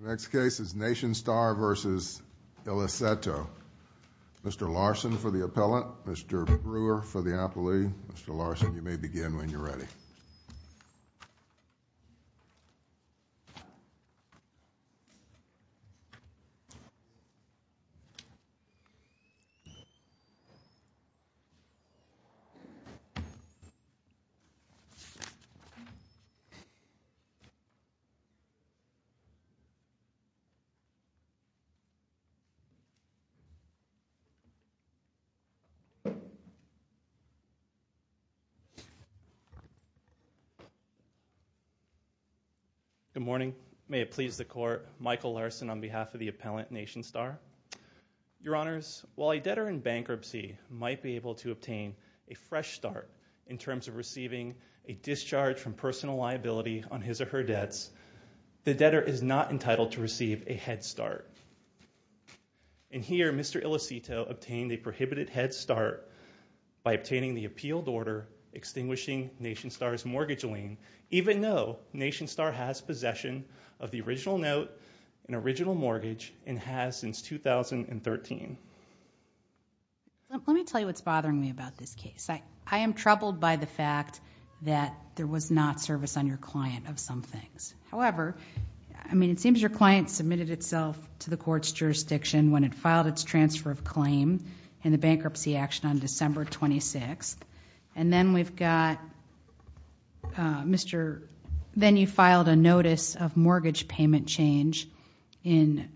The next case is Nationstar v. Iliceto. Mr. Larson for the appellant, Mr. Brewer for the appellant, Mr. Larson for the appellant, Mr. Brewer for the appellant, Mr. Iliceto. Good morning. May it please the court, Michael Larson on behalf of the appellant Nationstar. Your Honors, while a debtor in bankruptcy might be able to obtain a fresh start in terms of receiving a discharge from personal liability on his or her debts, the debtor is not entitled to receive a head start. And here, Mr. Iliceto obtained a prohibited head start by obtaining the appealed order extinguishing Nationstar's mortgage lien, even though Nationstar has since 2013. Let me tell you what's bothering me about this case. I am troubled by the fact that there was not service on your client of some things. However, I mean it seems your client submitted itself to the court's jurisdiction when it filed its transfer of claim in the bankruptcy action on December 26th. And then we've got, then you filed a notice of mortgage payment change in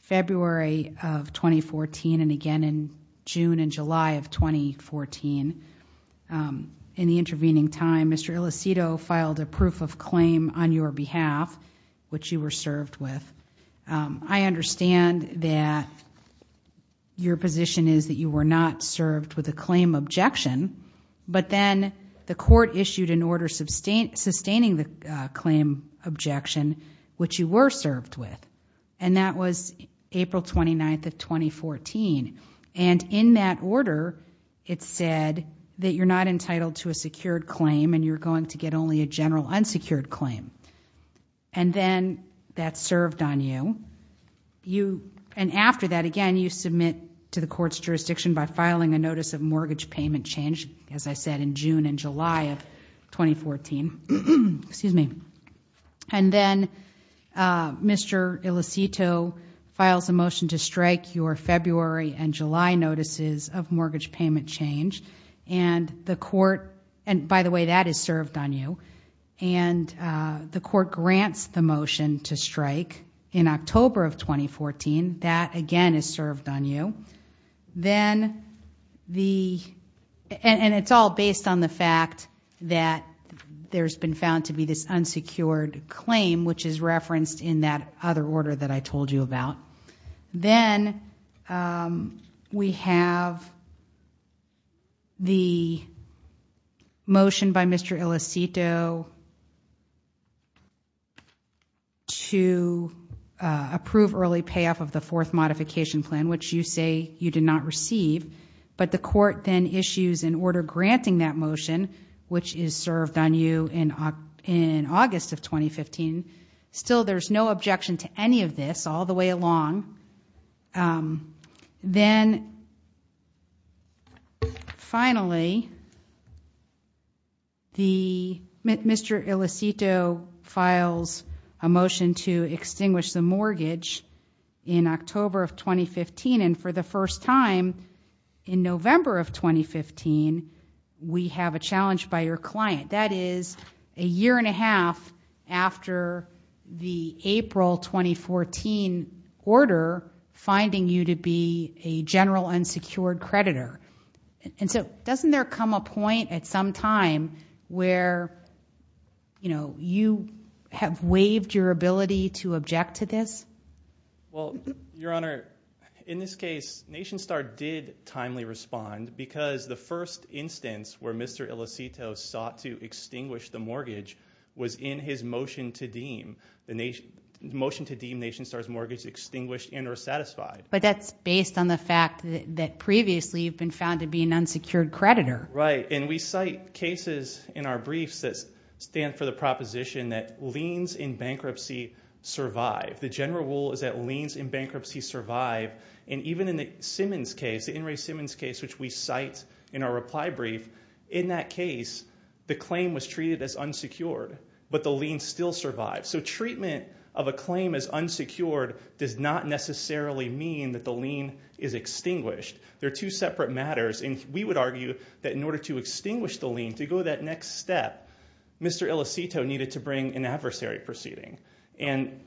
February of 2014 and again in June and July of 2014. In the intervening time, Mr. Iliceto filed a proof of claim on your behalf, which you were served with. I understand that your position is that you were not served with a claim objection, but then the court issued an order sustaining the claim objection, which you were served with. And that was April 29th of 2014. And in that order, it said that you're not entitled to a secured claim and you're going to get only a general unsecured claim. And then that served on you. And after that, again, you filed a motion by filing a notice of mortgage payment change, as I said, in June and July of 2014. And then Mr. Iliceto files a motion to strike your February and July notices of mortgage payment change. And by the way, that is served on you. And the court grants the And it's all based on the fact that there's been found to be this unsecured claim, which is referenced in that other order that I told you about. Then we have the motion by Mr. Iliceto to approve early payoff of the fourth modification plan, which you say you did not receive, but the court then issues an order granting that motion, which is served on you in August of 2015. Still, there's no objection to any of this all the way along. Then finally, the Mr. Iliceto files a motion to extinguish the mortgage in October of 2015. And for the first time in November of 2015, we have a challenge by your client. That is a year and a half after the April 2014 order finding you to be a general unsecured creditor. And so doesn't there come a point at some time where you have waived your ability to object to this? Well, Your Honor, in this case, NationStar did timely respond because the first instance where Mr. Iliceto sought to extinguish the mortgage was in his motion to deem NationStar's mortgage extinguished and or satisfied. But that's based on the fact that previously you've been found to be an unsecured creditor. Right. And we cite cases in our briefs that stand for the proposition that liens in bankruptcy survive. The general rule is that liens in bankruptcy survive. And even in the Simmons case, the In re Simmons case, which we cite in our reply brief, in that case, the claim was treated as unsecured, but the lien still survived. So treatment of a claim as unsecured does not necessarily mean that the lien is extinguished. They're two separate matters. And we would argue that in order to extinguish the lien, to go that next step, Mr. Iliceto needed to bring an adversary proceeding. And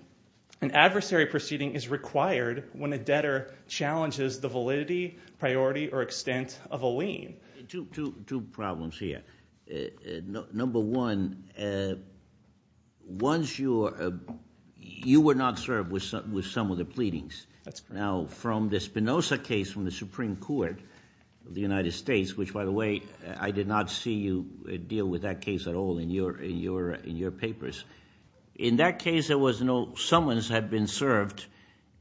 an adversary proceeding is required when a debtor challenges the validity, priority, or extent of a lien. Two problems here. Number one, you were not served with some of the pleadings. Now, from the Spinoza case from the Supreme Court of the United States, which, by the way, I did not see you deal with that case at all in your papers. In that case, there was no summons had been served.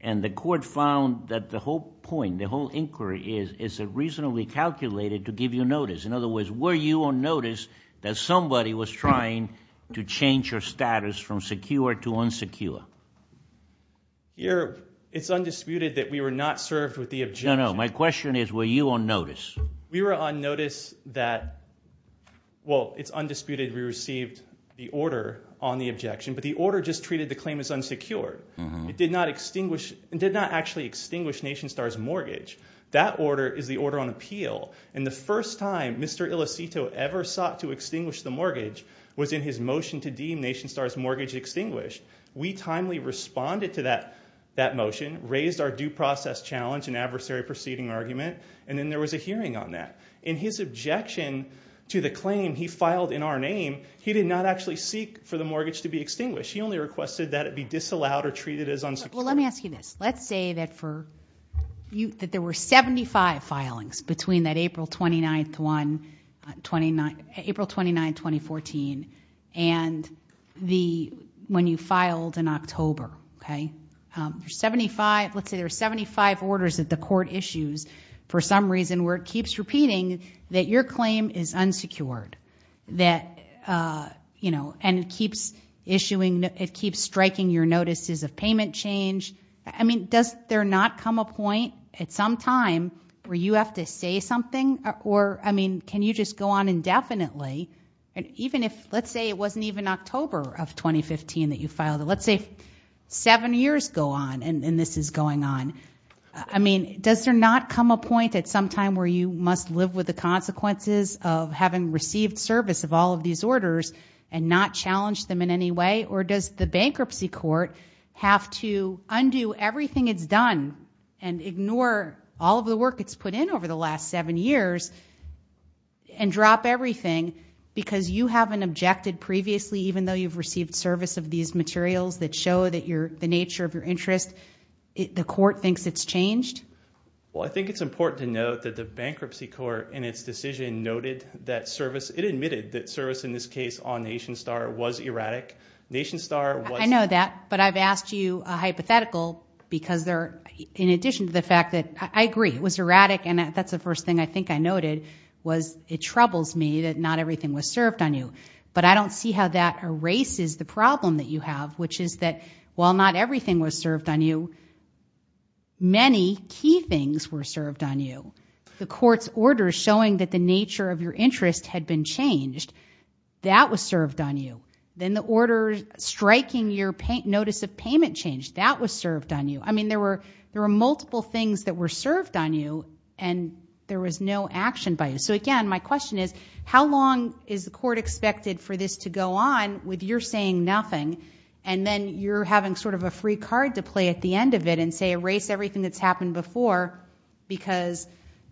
And the court found that the whole point, the whole inquiry, is reasonably calculated to give you notice. In other words, were you on notice that somebody was trying to change your status from secure to unsecure? It's undisputed that we were not served with the objection. No, no. My question is, were you on notice? We were on notice that, well, it's undisputed we received the order on the objection. But the order just treated the claim as unsecured. It did not extinguish, it did not actually extinguish NationStar's mortgage. That order is the order on appeal. And the first time Mr. Iliceto ever sought to extinguish the mortgage was in his motion to deem NationStar's mortgage extinguished. We timely responded to that motion, raised our due process challenge and adversary proceeding argument, and then there was a hearing on that. In his objection to the claim he filed in our name, he did not actually seek for the mortgage to be extinguished. He only requested that it be disallowed or treated as unsecured. Well, let me ask you this. Let's say that for you, that there were 75 filings between that April 29, 2014, and when you filed in October. Let's say there were 75 orders that the court issues for some reason where it keeps repeating that your claim is unsecured. And it keeps striking your notices of payment change. I mean, does there not come a point at some time where you have to say something? Or, I mean, can you just go on indefinitely? And even if, let's say it wasn't even October of 2015 that you filed it. Let's say seven years go on and this is going on. I mean, does there not come a point at some time where you must live with the consequences of having received service of all of these orders and not challenge them in any way? Or does the bankruptcy court have to undo everything it's done, ignore all of the work it's put in over the last seven years, and drop everything because you haven't objected previously even though you've received service of these materials that show the nature of your interest? The court thinks it's changed? Well, I think it's important to note that the bankruptcy court in its decision noted that service, it admitted that service in this case on Nation Star was erratic. Nation Star was- The fact that, I agree, it was erratic and that's the first thing I think I noted was it troubles me that not everything was served on you. But I don't see how that erases the problem that you have, which is that while not everything was served on you, many key things were served on you. The court's order showing that the nature of your interest had been changed, that was served on you. Then the order striking your notice of payment change, that was served on you. There were multiple things that were served on you and there was no action by you. So again, my question is, how long is the court expected for this to go on with your saying nothing and then you're having a free card to play at the end of it and say erase everything that's happened before because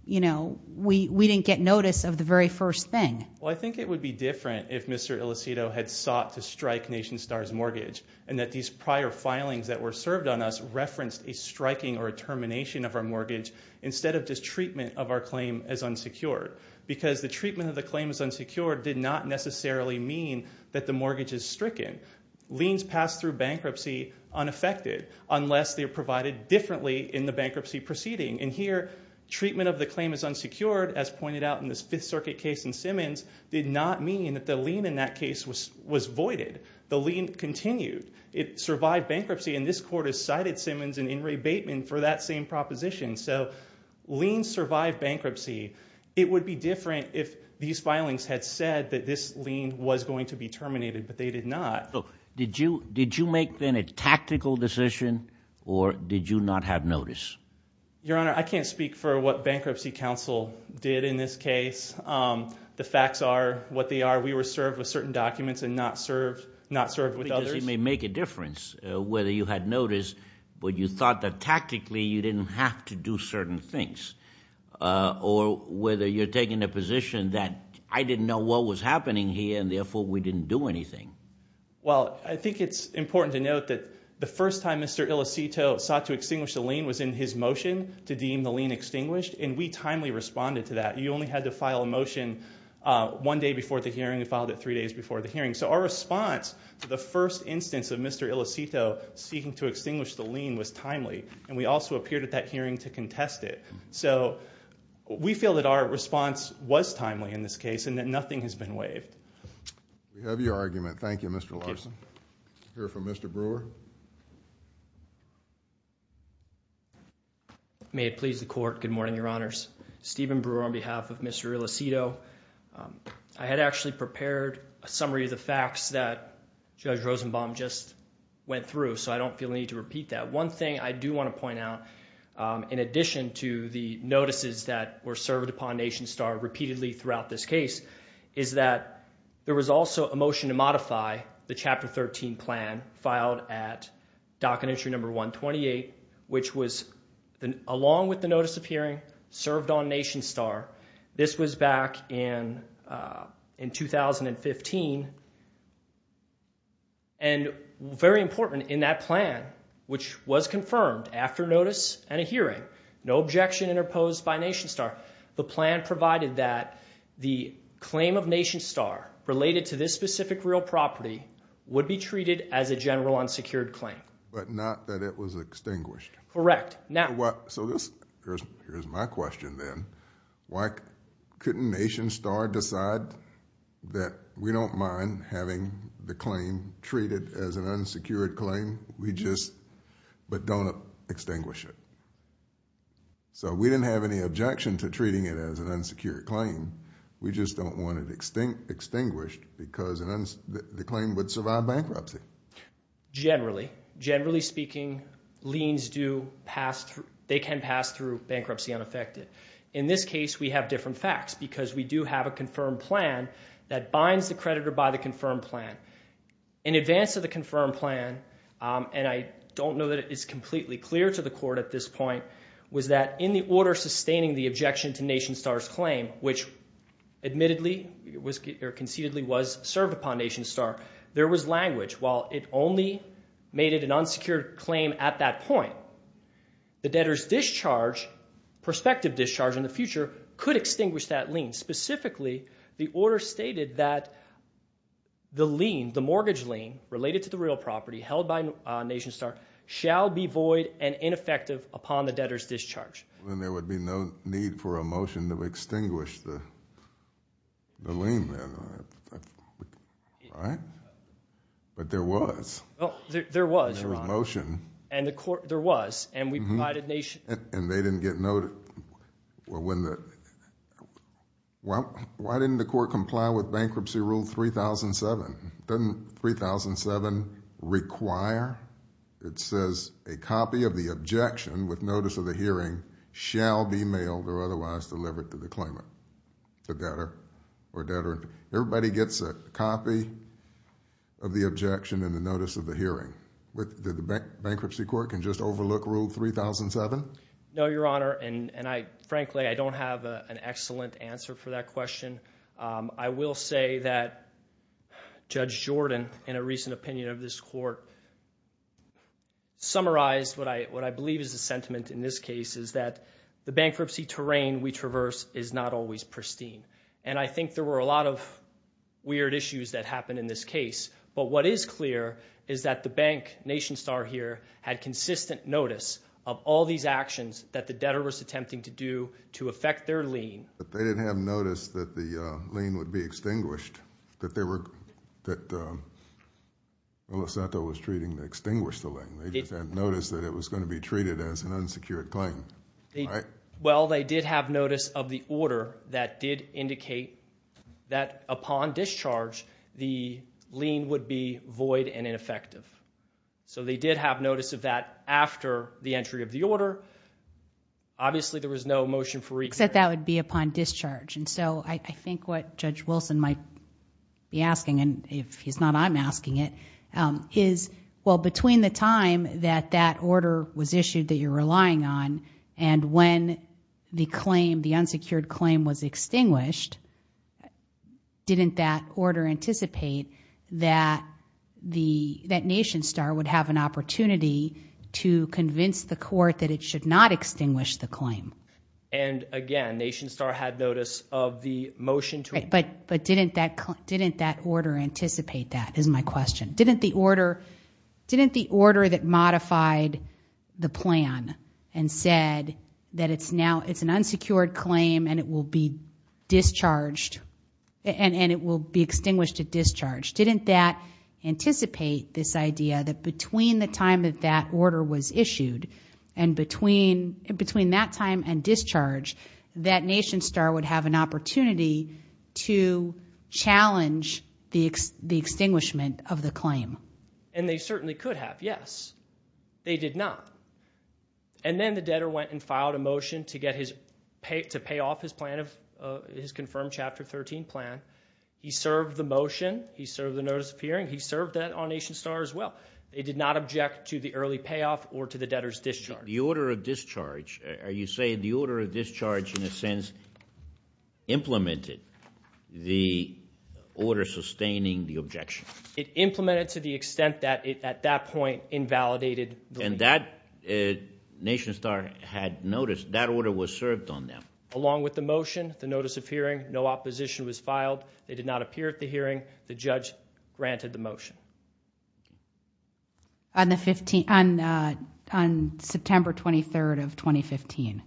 we didn't get notice of the very first thing? Well, I think it would be different if Mr. Ilicito had sought to strike Nation Star's claims that were served on us referenced a striking or a termination of our mortgage instead of just treatment of our claim as unsecured. Because the treatment of the claim as unsecured did not necessarily mean that the mortgage is stricken. Liens pass through bankruptcy unaffected unless they're provided differently in the bankruptcy proceeding. And here, treatment of the claim as unsecured, as pointed out in this Fifth Circuit case in Simmons, did not mean that the lien in that case was voided. The lien continued. It survived bankruptcy and this court has cited Simmons and In rebatement for that same proposition. So liens survive bankruptcy. It would be different if these filings had said that this lien was going to be terminated but they did not. Look, did you make then a tactical decision or did you not have notice? Your Honor, I can't speak for what Bankruptcy Counsel did in this case. The facts are what they are. We were served with certain documents and not served with others. It may make a difference whether you had notice but you thought that tactically you didn't have to do certain things. Or whether you're taking a position that I didn't know what was happening here and therefore we didn't do anything. Well, I think it's important to note that the first time Mr. Ilicito sought to extinguish the lien was in his motion to deem the lien extinguished and we timely responded to that. You only had to file a motion one day before the hearing. We filed it three days before the hearing. So our response to the first instance of Mr. Ilicito seeking to extinguish the lien was timely and we also appeared at that hearing to contest it. So we feel that our response was timely in this case and that nothing has been waived. We have your argument. Thank you, Mr. Larson. We'll hear from Mr. Brewer. May it please the Court. Good morning, Your Honors. Stephen Brewer on behalf of Mr. Ilicito. I had actually prepared a summary of the facts that Judge Rosenbaum just went through so I don't feel the need to repeat that. One thing I do want to point out in addition to the notices that were served upon Nation Star repeatedly throughout this case is that there was also a motion to modify the Chapter 13 plan filed at Dock and Entry 128, which was along with the notice of hearing served on Nation Star. This was back in 2015 and very important in that plan, which was confirmed after notice and a hearing, no objection interposed by Nation Star. The plan provided that the claim of Nation Star related to this specific real property would be treated as a general unsecured claim. But not that it was extinguished. Correct. So here's my question then. Why couldn't Nation Star decide that we don't mind having the claim treated as an unsecured claim, but don't extinguish it? So we didn't have any objection to treating it as an unsecured claim. We just don't want it extinguished because the claim would survive bankruptcy. Generally. Generally speaking liens do pass through, they can pass through bankruptcy unaffected. In this case we have different facts because we do have a confirmed plan that binds the creditor by the confirmed plan. In advance of the confirmed plan, and I don't know that it is completely clear to the court at this point, was that in the order sustaining the objection to Nation Star, which concededly was served upon Nation Star, there was language. While it only made it an unsecured claim at that point, the debtor's discharge, prospective discharge in the future could extinguish that lien. Specifically, the order stated that the lien, the mortgage lien related to the real property held by Nation Star shall be void and ineffective upon the debtor's discharge. Then there would be no need for a motion to extinguish the lien then, right? But there was. There was, Your Honor. There was a motion. And the court, there was, and we provided Nation. And they didn't get noted. Well, why didn't the court comply with Bankruptcy Rule 3007? Doesn't 3007 require? It says a copy of the objection with notice of the hearing shall be mailed or otherwise delivered to the claimant, the debtor or debtor. Everybody gets a copy of the objection and the notice of the hearing. Did the bankruptcy court can just overlook Rule 3007? No, Your Honor. And I, frankly, I don't have an excellent answer for that question. I will say that Judge Jordan, in a recent opinion of this court, summarized what I believe is the sentiment in this case is that the bankruptcy terrain we traverse is not always pristine. And I think there were a lot of weird issues that happened in this case. But what is clear is that the bank, Nation Star here, had consistent notice of all these actions that the debtor was attempting to do to affect their lien. But they didn't have notice that the lien would be extinguished, that they were, that Losanto was treating to extinguish the lien. They just didn't notice that it was going to be treated as an unsecured claim. Right? Well, they did have notice of the order that did indicate that upon discharge, the lien would be void and ineffective. So they did have notice of that after the entry of the order. Obviously, there was no motion that that would be upon discharge. And so I think what Judge Wilson might be asking, and if he's not, I'm asking it, is, well, between the time that that order was issued that you're relying on, and when the claim, the unsecured claim was extinguished, didn't that order anticipate that the, that Nation Star would have an opportunity to convince the court that it should not extinguish the claim? And again, Nation Star had notice of the motion to... But, but didn't that, didn't that order anticipate that, is my question. Didn't the order, didn't the order that modified the plan and said that it's now, it's an unsecured claim and it will be discharged, and it will be extinguished at discharge, didn't that anticipate this idea that between the time that that order was issued, and between that time and discharge, that Nation Star would have an opportunity to challenge the extinguishment of the claim? And they certainly could have, yes. They did not. And then the debtor went and filed a motion to get his, to pay off his plan of, his confirmed Chapter 13 plan. He served the debt on Nation Star as well. They did not object to the early payoff or to the debtor's discharge. The order of discharge, are you saying the order of discharge, in a sense, implemented the order sustaining the objection? It implemented to the extent that it, at that point, invalidated the... And that, Nation Star had notice, that order was served on them. Along with the motion, the notice of hearing, no opposition was filed. They did not appear at the hearing. The judge granted the motion. On the 15th, on, uh, on September 23rd of 2015.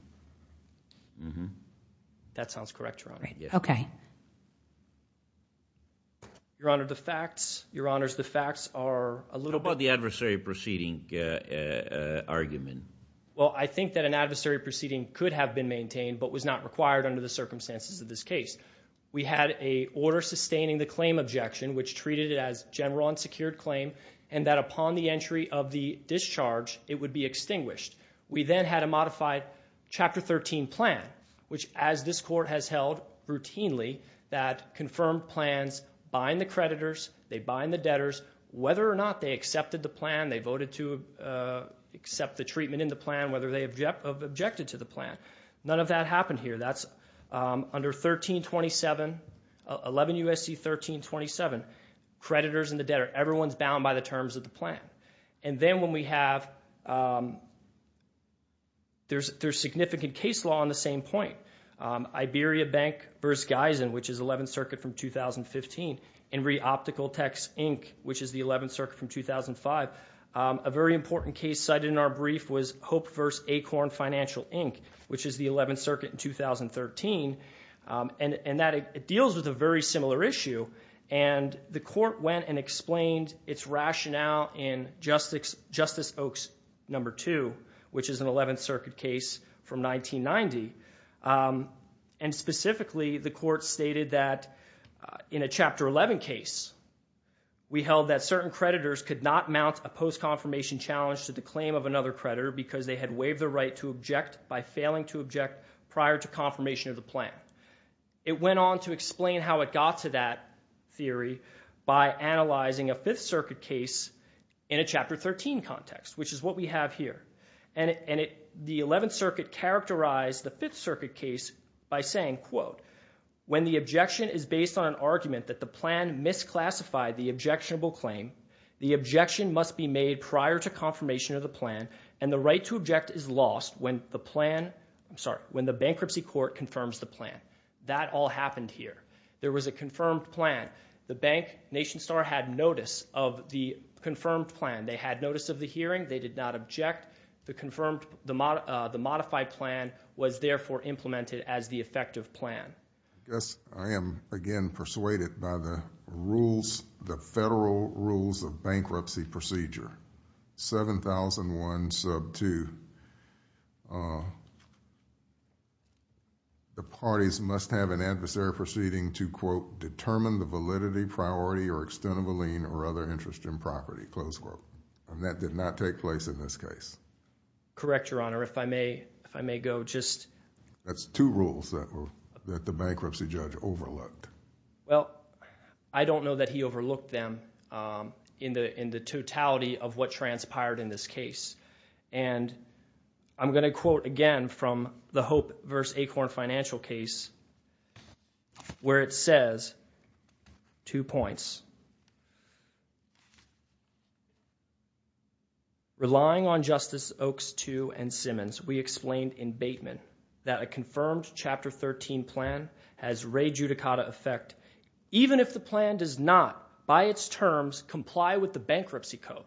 That sounds correct, Your Honor. Okay. Your Honor, the facts, Your Honors, the facts are a little bit... What about the adversary proceeding, uh, uh, argument? Well I think that an adversary proceeding could have been maintained, but was not required under the circumstances of this case. We had a order sustaining the claim objection, which treated it as general unsecured claim, and that upon the entry of the discharge, it would be extinguished. We then had a modified Chapter 13 plan, which, as this court has held routinely, that confirmed plans bind the creditors, they bind the debtors, whether or not they accepted the plan, they voted to, uh, accept the treatment in the plan, whether they objected to the plan. None of that happened here. That's, um, under 1327, 11 U.S.C. 1327, creditors and the debtor, everyone's bound by the terms of the plan. And then when we have, um, there's, there's significant case law on the same point. Um, Iberia Bank v. Geisen, which is 11th Circuit from 2015, and Reoptical Techs, Inc., which is the 11th Circuit from 2005, um, a very important case cited in our brief was Hope v. Acorn Financial, Inc., which is the 11th Circuit in 2013, um, and, and that it deals with a very similar issue, and the court went and explained its rationale in Justice, Justice Oaks No. 2, which is an 11th Circuit case from 1990, um, and specifically, the court stated that, uh, in a Chapter 11 case, we held that certain creditors could not mount a post-confirmation challenge to the claim of another creditor because they had waived the right to object by failing to object prior to confirmation of the plan. It went on to explain how it got to that theory by analyzing a 5th Circuit case in a Chapter 13 context, which is what we have here. And, and it, the 11th Circuit characterized the 5th Circuit case by saying, quote, when the objection is based on an argument that the plan misclassified the objectionable claim, the objection must be made prior to confirmation of the plan, and the right to object is lost when the plan, I'm sorry, when the bankruptcy court confirms the plan. That all happened here. There was a confirmed plan. The bank, NationStar, had notice of the confirmed plan. They had notice of the hearing. They did not object. The confirmed, the mod, uh, the modified plan was therefore implemented as the effective plan. I guess I am, again, persuaded by the rules, the Federal Rules of Bankruptcy Procedure 7001 sub 2, uh, the parties must have an adversary proceeding to, quote, determine the validity, priority, or extent of a lien, or other interest in property, close quote, and that did not take place in this case. Correct, Your Honor. If I may, if I may go, just. That's two rules that were, that the bankruptcy judge overlooked. Well, I don't know that he overlooked them, um, in the, in the totality of what transpired in this case, and I'm going to quote again from the Hope v. Acorn financial case, where it says, two points, relying on Justice Oaks II and Simmons, we explained in Bateman, that a confirmed Chapter 13 plan has rejudicata effect, even if the plan does not, by its terms, comply with the bankruptcy code.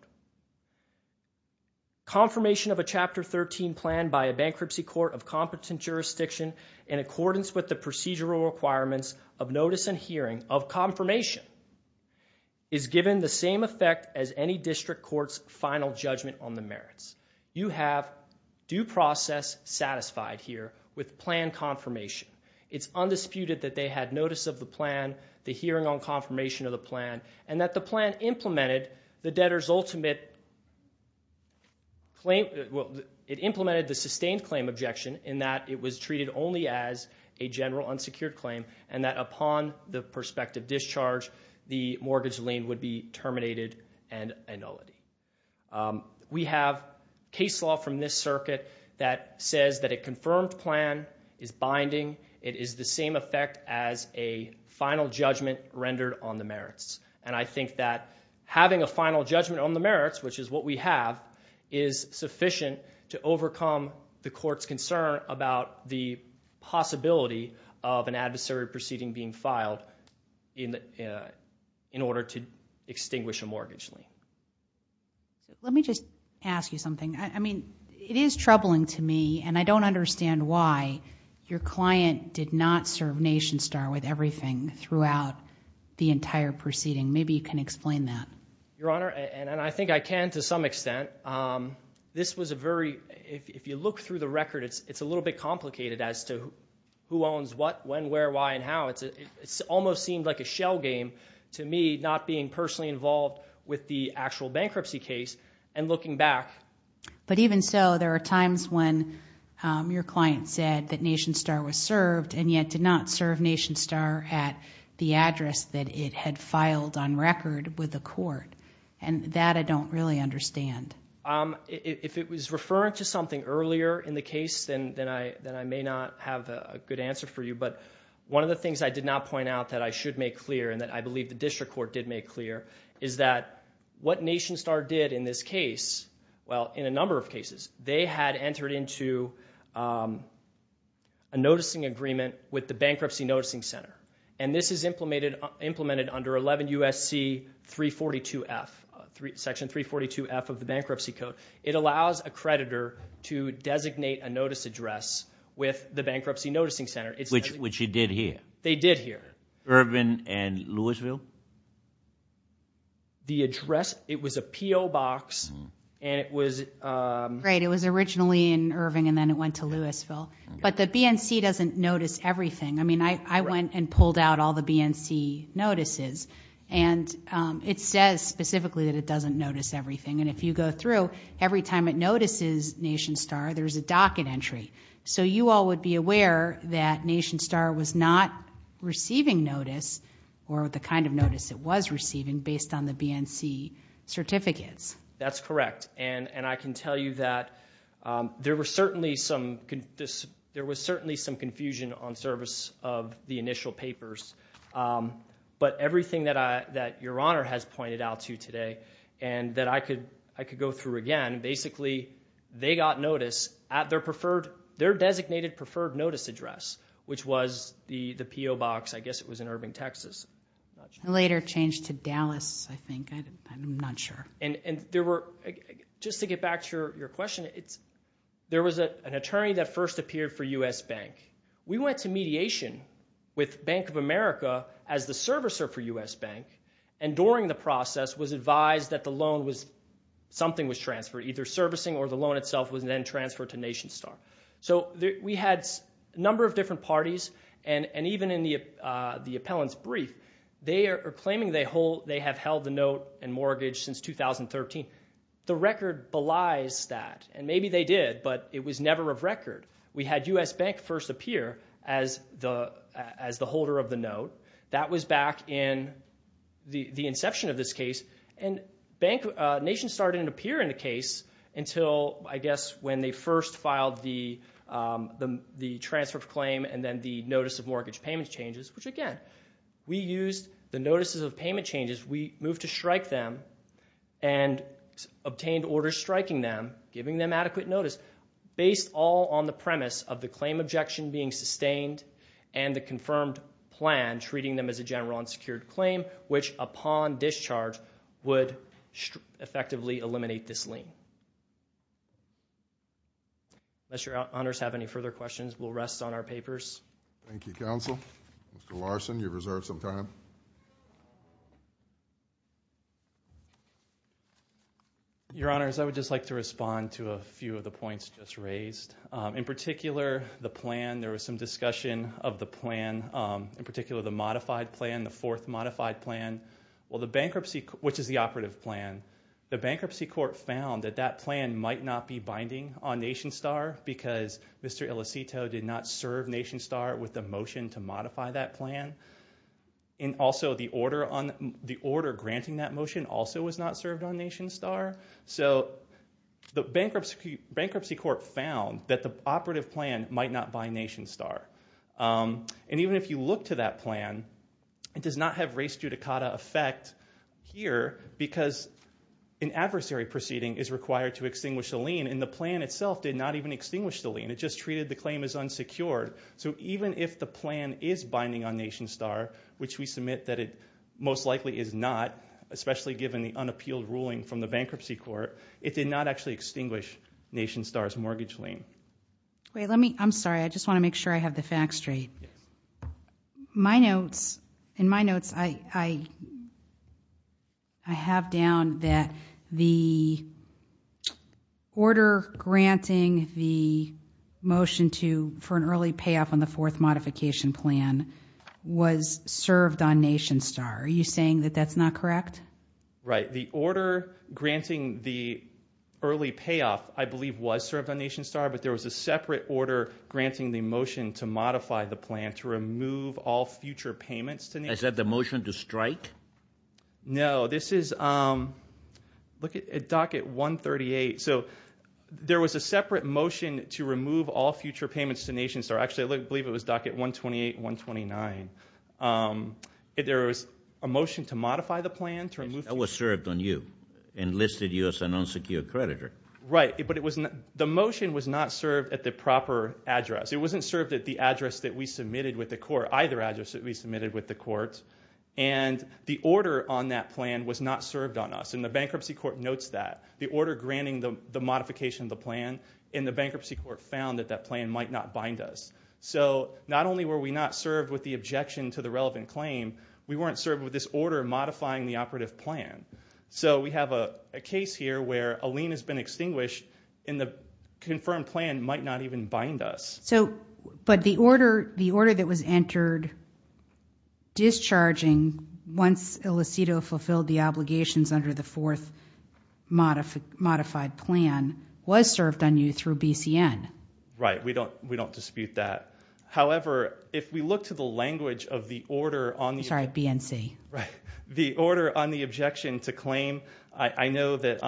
Confirmation of a Chapter 13 plan by a bankruptcy court of competent jurisdiction in accordance with the procedural requirements of notice and hearing of confirmation is given the same effect as any district court's final judgment on the merits. You have due process satisfied here with plan confirmation. It's undisputed that they had notice of the plan, the hearing on confirmation of the plan, and that the plan implemented the debtor's ultimate claim, well, it implemented the sustained claim objection in that it was treated only as a general unsecured claim, and that upon the prospective discharge, the mortgage lien would be terminated and annulled. We have case law from this circuit that says that a confirmed plan is binding. It is the same effect as a final judgment rendered on the merits, and I think that having a final judgment on the merits, which is what we have, is sufficient to overcome the court's concern about the possibility of an adversary proceeding being filed in order to extinguish a mortgage lien. Let me just ask you something. I mean, it is troubling to me, and I don't understand why your client did not serve Nation Star with everything throughout the entire proceeding. Maybe you can explain that. Your Honor, and I think I can to some extent, this was a very, if you look through the record, it's a little bit complicated as to who owns what, when, where, why, and how. It almost seemed like a shell game to me, not being personally involved with the actual bankruptcy case, and looking back. But even so, there are times when your client said that Nation Star was served, and yet did not serve Nation Star at the address that it had filed on record with the court, and that I don't really understand. If it was referring to something earlier in the case, then I may not have a good answer for you, but one of the things I did not point out that I should make clear, and that I believe the district court did make clear, is that what Nation Star did in this case, well, in a number of cases, they had entered into a noticing agreement with the Bankruptcy Noticing Center, and this is implemented under 11 U.S.C. 342F, Section 342F of the Bankruptcy Code. It allows a creditor to designate a notice address with the Bankruptcy Noticing Center. Which it did here. They did here. Irving and Louisville? The address, it was a P.O. box, and it was... Right, it was originally in Irving, and then it went to Louisville. But the BNC doesn't notice everything. I mean, I went and pulled out all the BNC notices, and it says specifically that it every time it notices Nation Star, there's a docket entry. So you all would be aware that Nation Star was not receiving notice, or the kind of notice it was receiving, based on the BNC certificates. That's correct. And I can tell you that there was certainly some confusion on service of the initial papers. But everything that Your Honor has pointed out to you today, and that I could go through again, basically, they got notice at their designated preferred notice address, which was the P.O. box. I guess it was in Irving, Texas. I'm not sure. It later changed to Dallas, I think. I'm not sure. And just to get back to your question, there was an attorney that first appeared for U.S. Bank. We went to mediation with Bank of America as the servicer for U.S. Bank, and during the process was advised that something was transferred, either servicing or the loan itself was then transferred to Nation Star. So we had a number of different parties, and even in the appellant's brief, they are claiming they have held the note and mortgage since 2013. The record belies that. And maybe they did, but it was never of record. We had U.S. Bank first appear as the holder of the note. That was back in the inception of this case, and Nation Star didn't appear in the case until, I guess, when they first filed the transfer of claim and then the notice of mortgage payment changes, which again, we used the notices of payment changes. We moved to strike them and obtained orders striking them, giving them adequate notice. Based all on the premise of the claim objection being sustained and the confirmed plan treating them as a general unsecured claim, which upon discharge would effectively eliminate this lien. Unless your honors have any further questions, we'll rest on our papers. Thank you, counsel. Mr. Larson, you have reserved some time. Your honors, I would just like to respond to a few of the points just raised. In particular, the plan, there was some discussion of the plan, in particular the modified plan, the fourth modified plan, which is the operative plan. The bankruptcy court found that that plan might not be binding on Nation Star because Mr. Ilicito did not serve Nation Star with the motion to modify that plan. Also, the order granting that motion also was not served on Nation Star. The bankruptcy court found that the operative plan might not bind Nation Star. Even if you look to that plan, it does not have race judicata effect here because an adversary proceeding is required to extinguish a lien and the plan itself did not even extinguish the lien. It just treated the claim as unsecured. Even if the plan is binding on Nation Star, which we submit that it most likely is not, especially given the unappealed ruling from the bankruptcy court, it did not actually extinguish Nation Star's mortgage lien. I'm sorry. I just want to make sure I have the facts straight. In my notes, I have down that the order granting the motion for an early payoff on the fourth modification plan was served on Nation Star. Are you saying that that's not correct? Right. The order granting the early payoff, I believe, was served on Nation Star, but there was a separate order granting the motion to modify the plan, to remove all future payments to Nation Star. Is that the motion to strike? No. This is docket 138. So there was a separate motion to remove all future payments to Nation Star. Actually, I believe it was docket 128 and 129. There was a motion to modify the plan. That was served on you and listed you as an unsecured creditor. Right. But the motion was not served at the proper address. It wasn't served at the address that we submitted with the court, either address that we submitted with the court. And the order on that plan was not served on us, and the bankruptcy court notes that. The order granting the modification of the plan in the bankruptcy court found that that plan might not bind us. So not only were we not served with the objection to the relevant claim, we weren't served with this order modifying the operative plan. So we have a case here where a lien has been extinguished, and the confirmed plan might not even bind us. But the order that was entered discharging once Ilicito fulfilled the obligations under the fourth modified plan was served on you through BCN. Right. We don't dispute that. However, if we look to the language of the order on the – Sorry, BNC. Right. The order on the objection to claim, I know that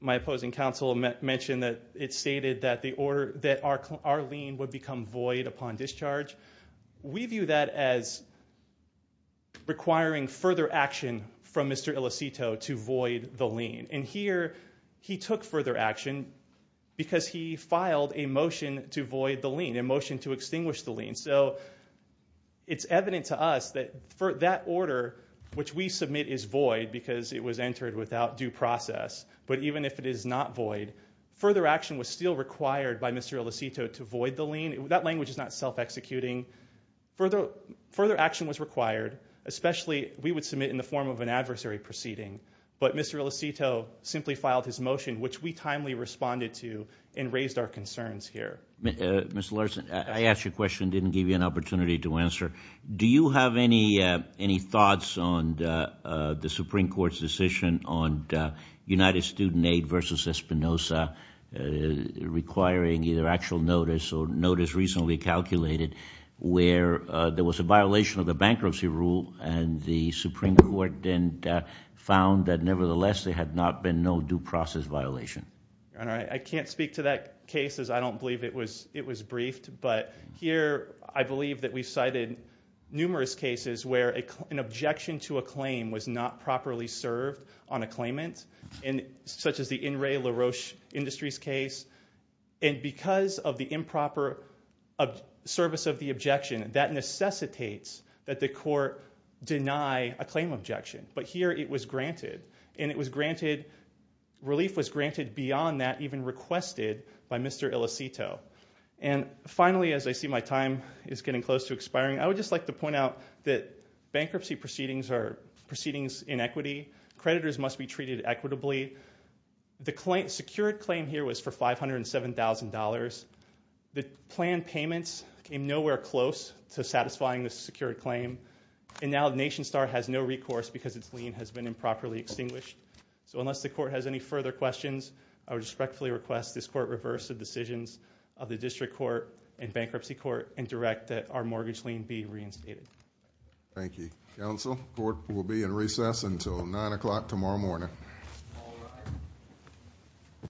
my opposing counsel mentioned that it stated that our lien would become void upon discharge. We view that as requiring further action from Mr. Ilicito to void the lien. And here he took further action because he filed a motion to void the lien, a motion to extinguish the lien. So it's evident to us that for that order, which we submit is void because it was entered without due process, but even if it is not void, further action was still required by Mr. Ilicito to void the lien. That language is not self-executing. Further action was required, especially we would submit in the form of an adversary proceeding. But Mr. Ilicito simply filed his motion, which we timely responded to and raised our concerns here. Mr. Larson, I asked you a question and didn't give you an opportunity to answer. Do you have any thoughts on the Supreme Court's decision on United Student Aid versus Espinoza requiring either actual notice or notice recently calculated where there was a violation of the bankruptcy rule and the Supreme Court then found that nevertheless there had not been no due process violation? I can't speak to that case as I don't believe it was briefed, but here I believe that we cited numerous cases where an objection to a claim was not properly served on a claimant, such as the In Re La Roche Industries case. And because of the improper service of the objection, that necessitates that the court deny a claim objection. But here it was granted. Relief was granted beyond that even requested by Mr. Ilicito. And finally, as I see my time is getting close to expiring, I would just like to point out that bankruptcy proceedings are proceedings in equity. Creditors must be treated equitably. The secured claim here was for $507,000. The planned payments came nowhere close to satisfying the secured claim. And now NationStar has no recourse because its lien has been improperly extinguished. So unless the court has any further questions, I would respectfully request this court reverse the decisions of the District Court and Bankruptcy Court and direct that our mortgage lien be reinstated. Thank you. Counsel, court will be in recess until 9 o'clock tomorrow morning.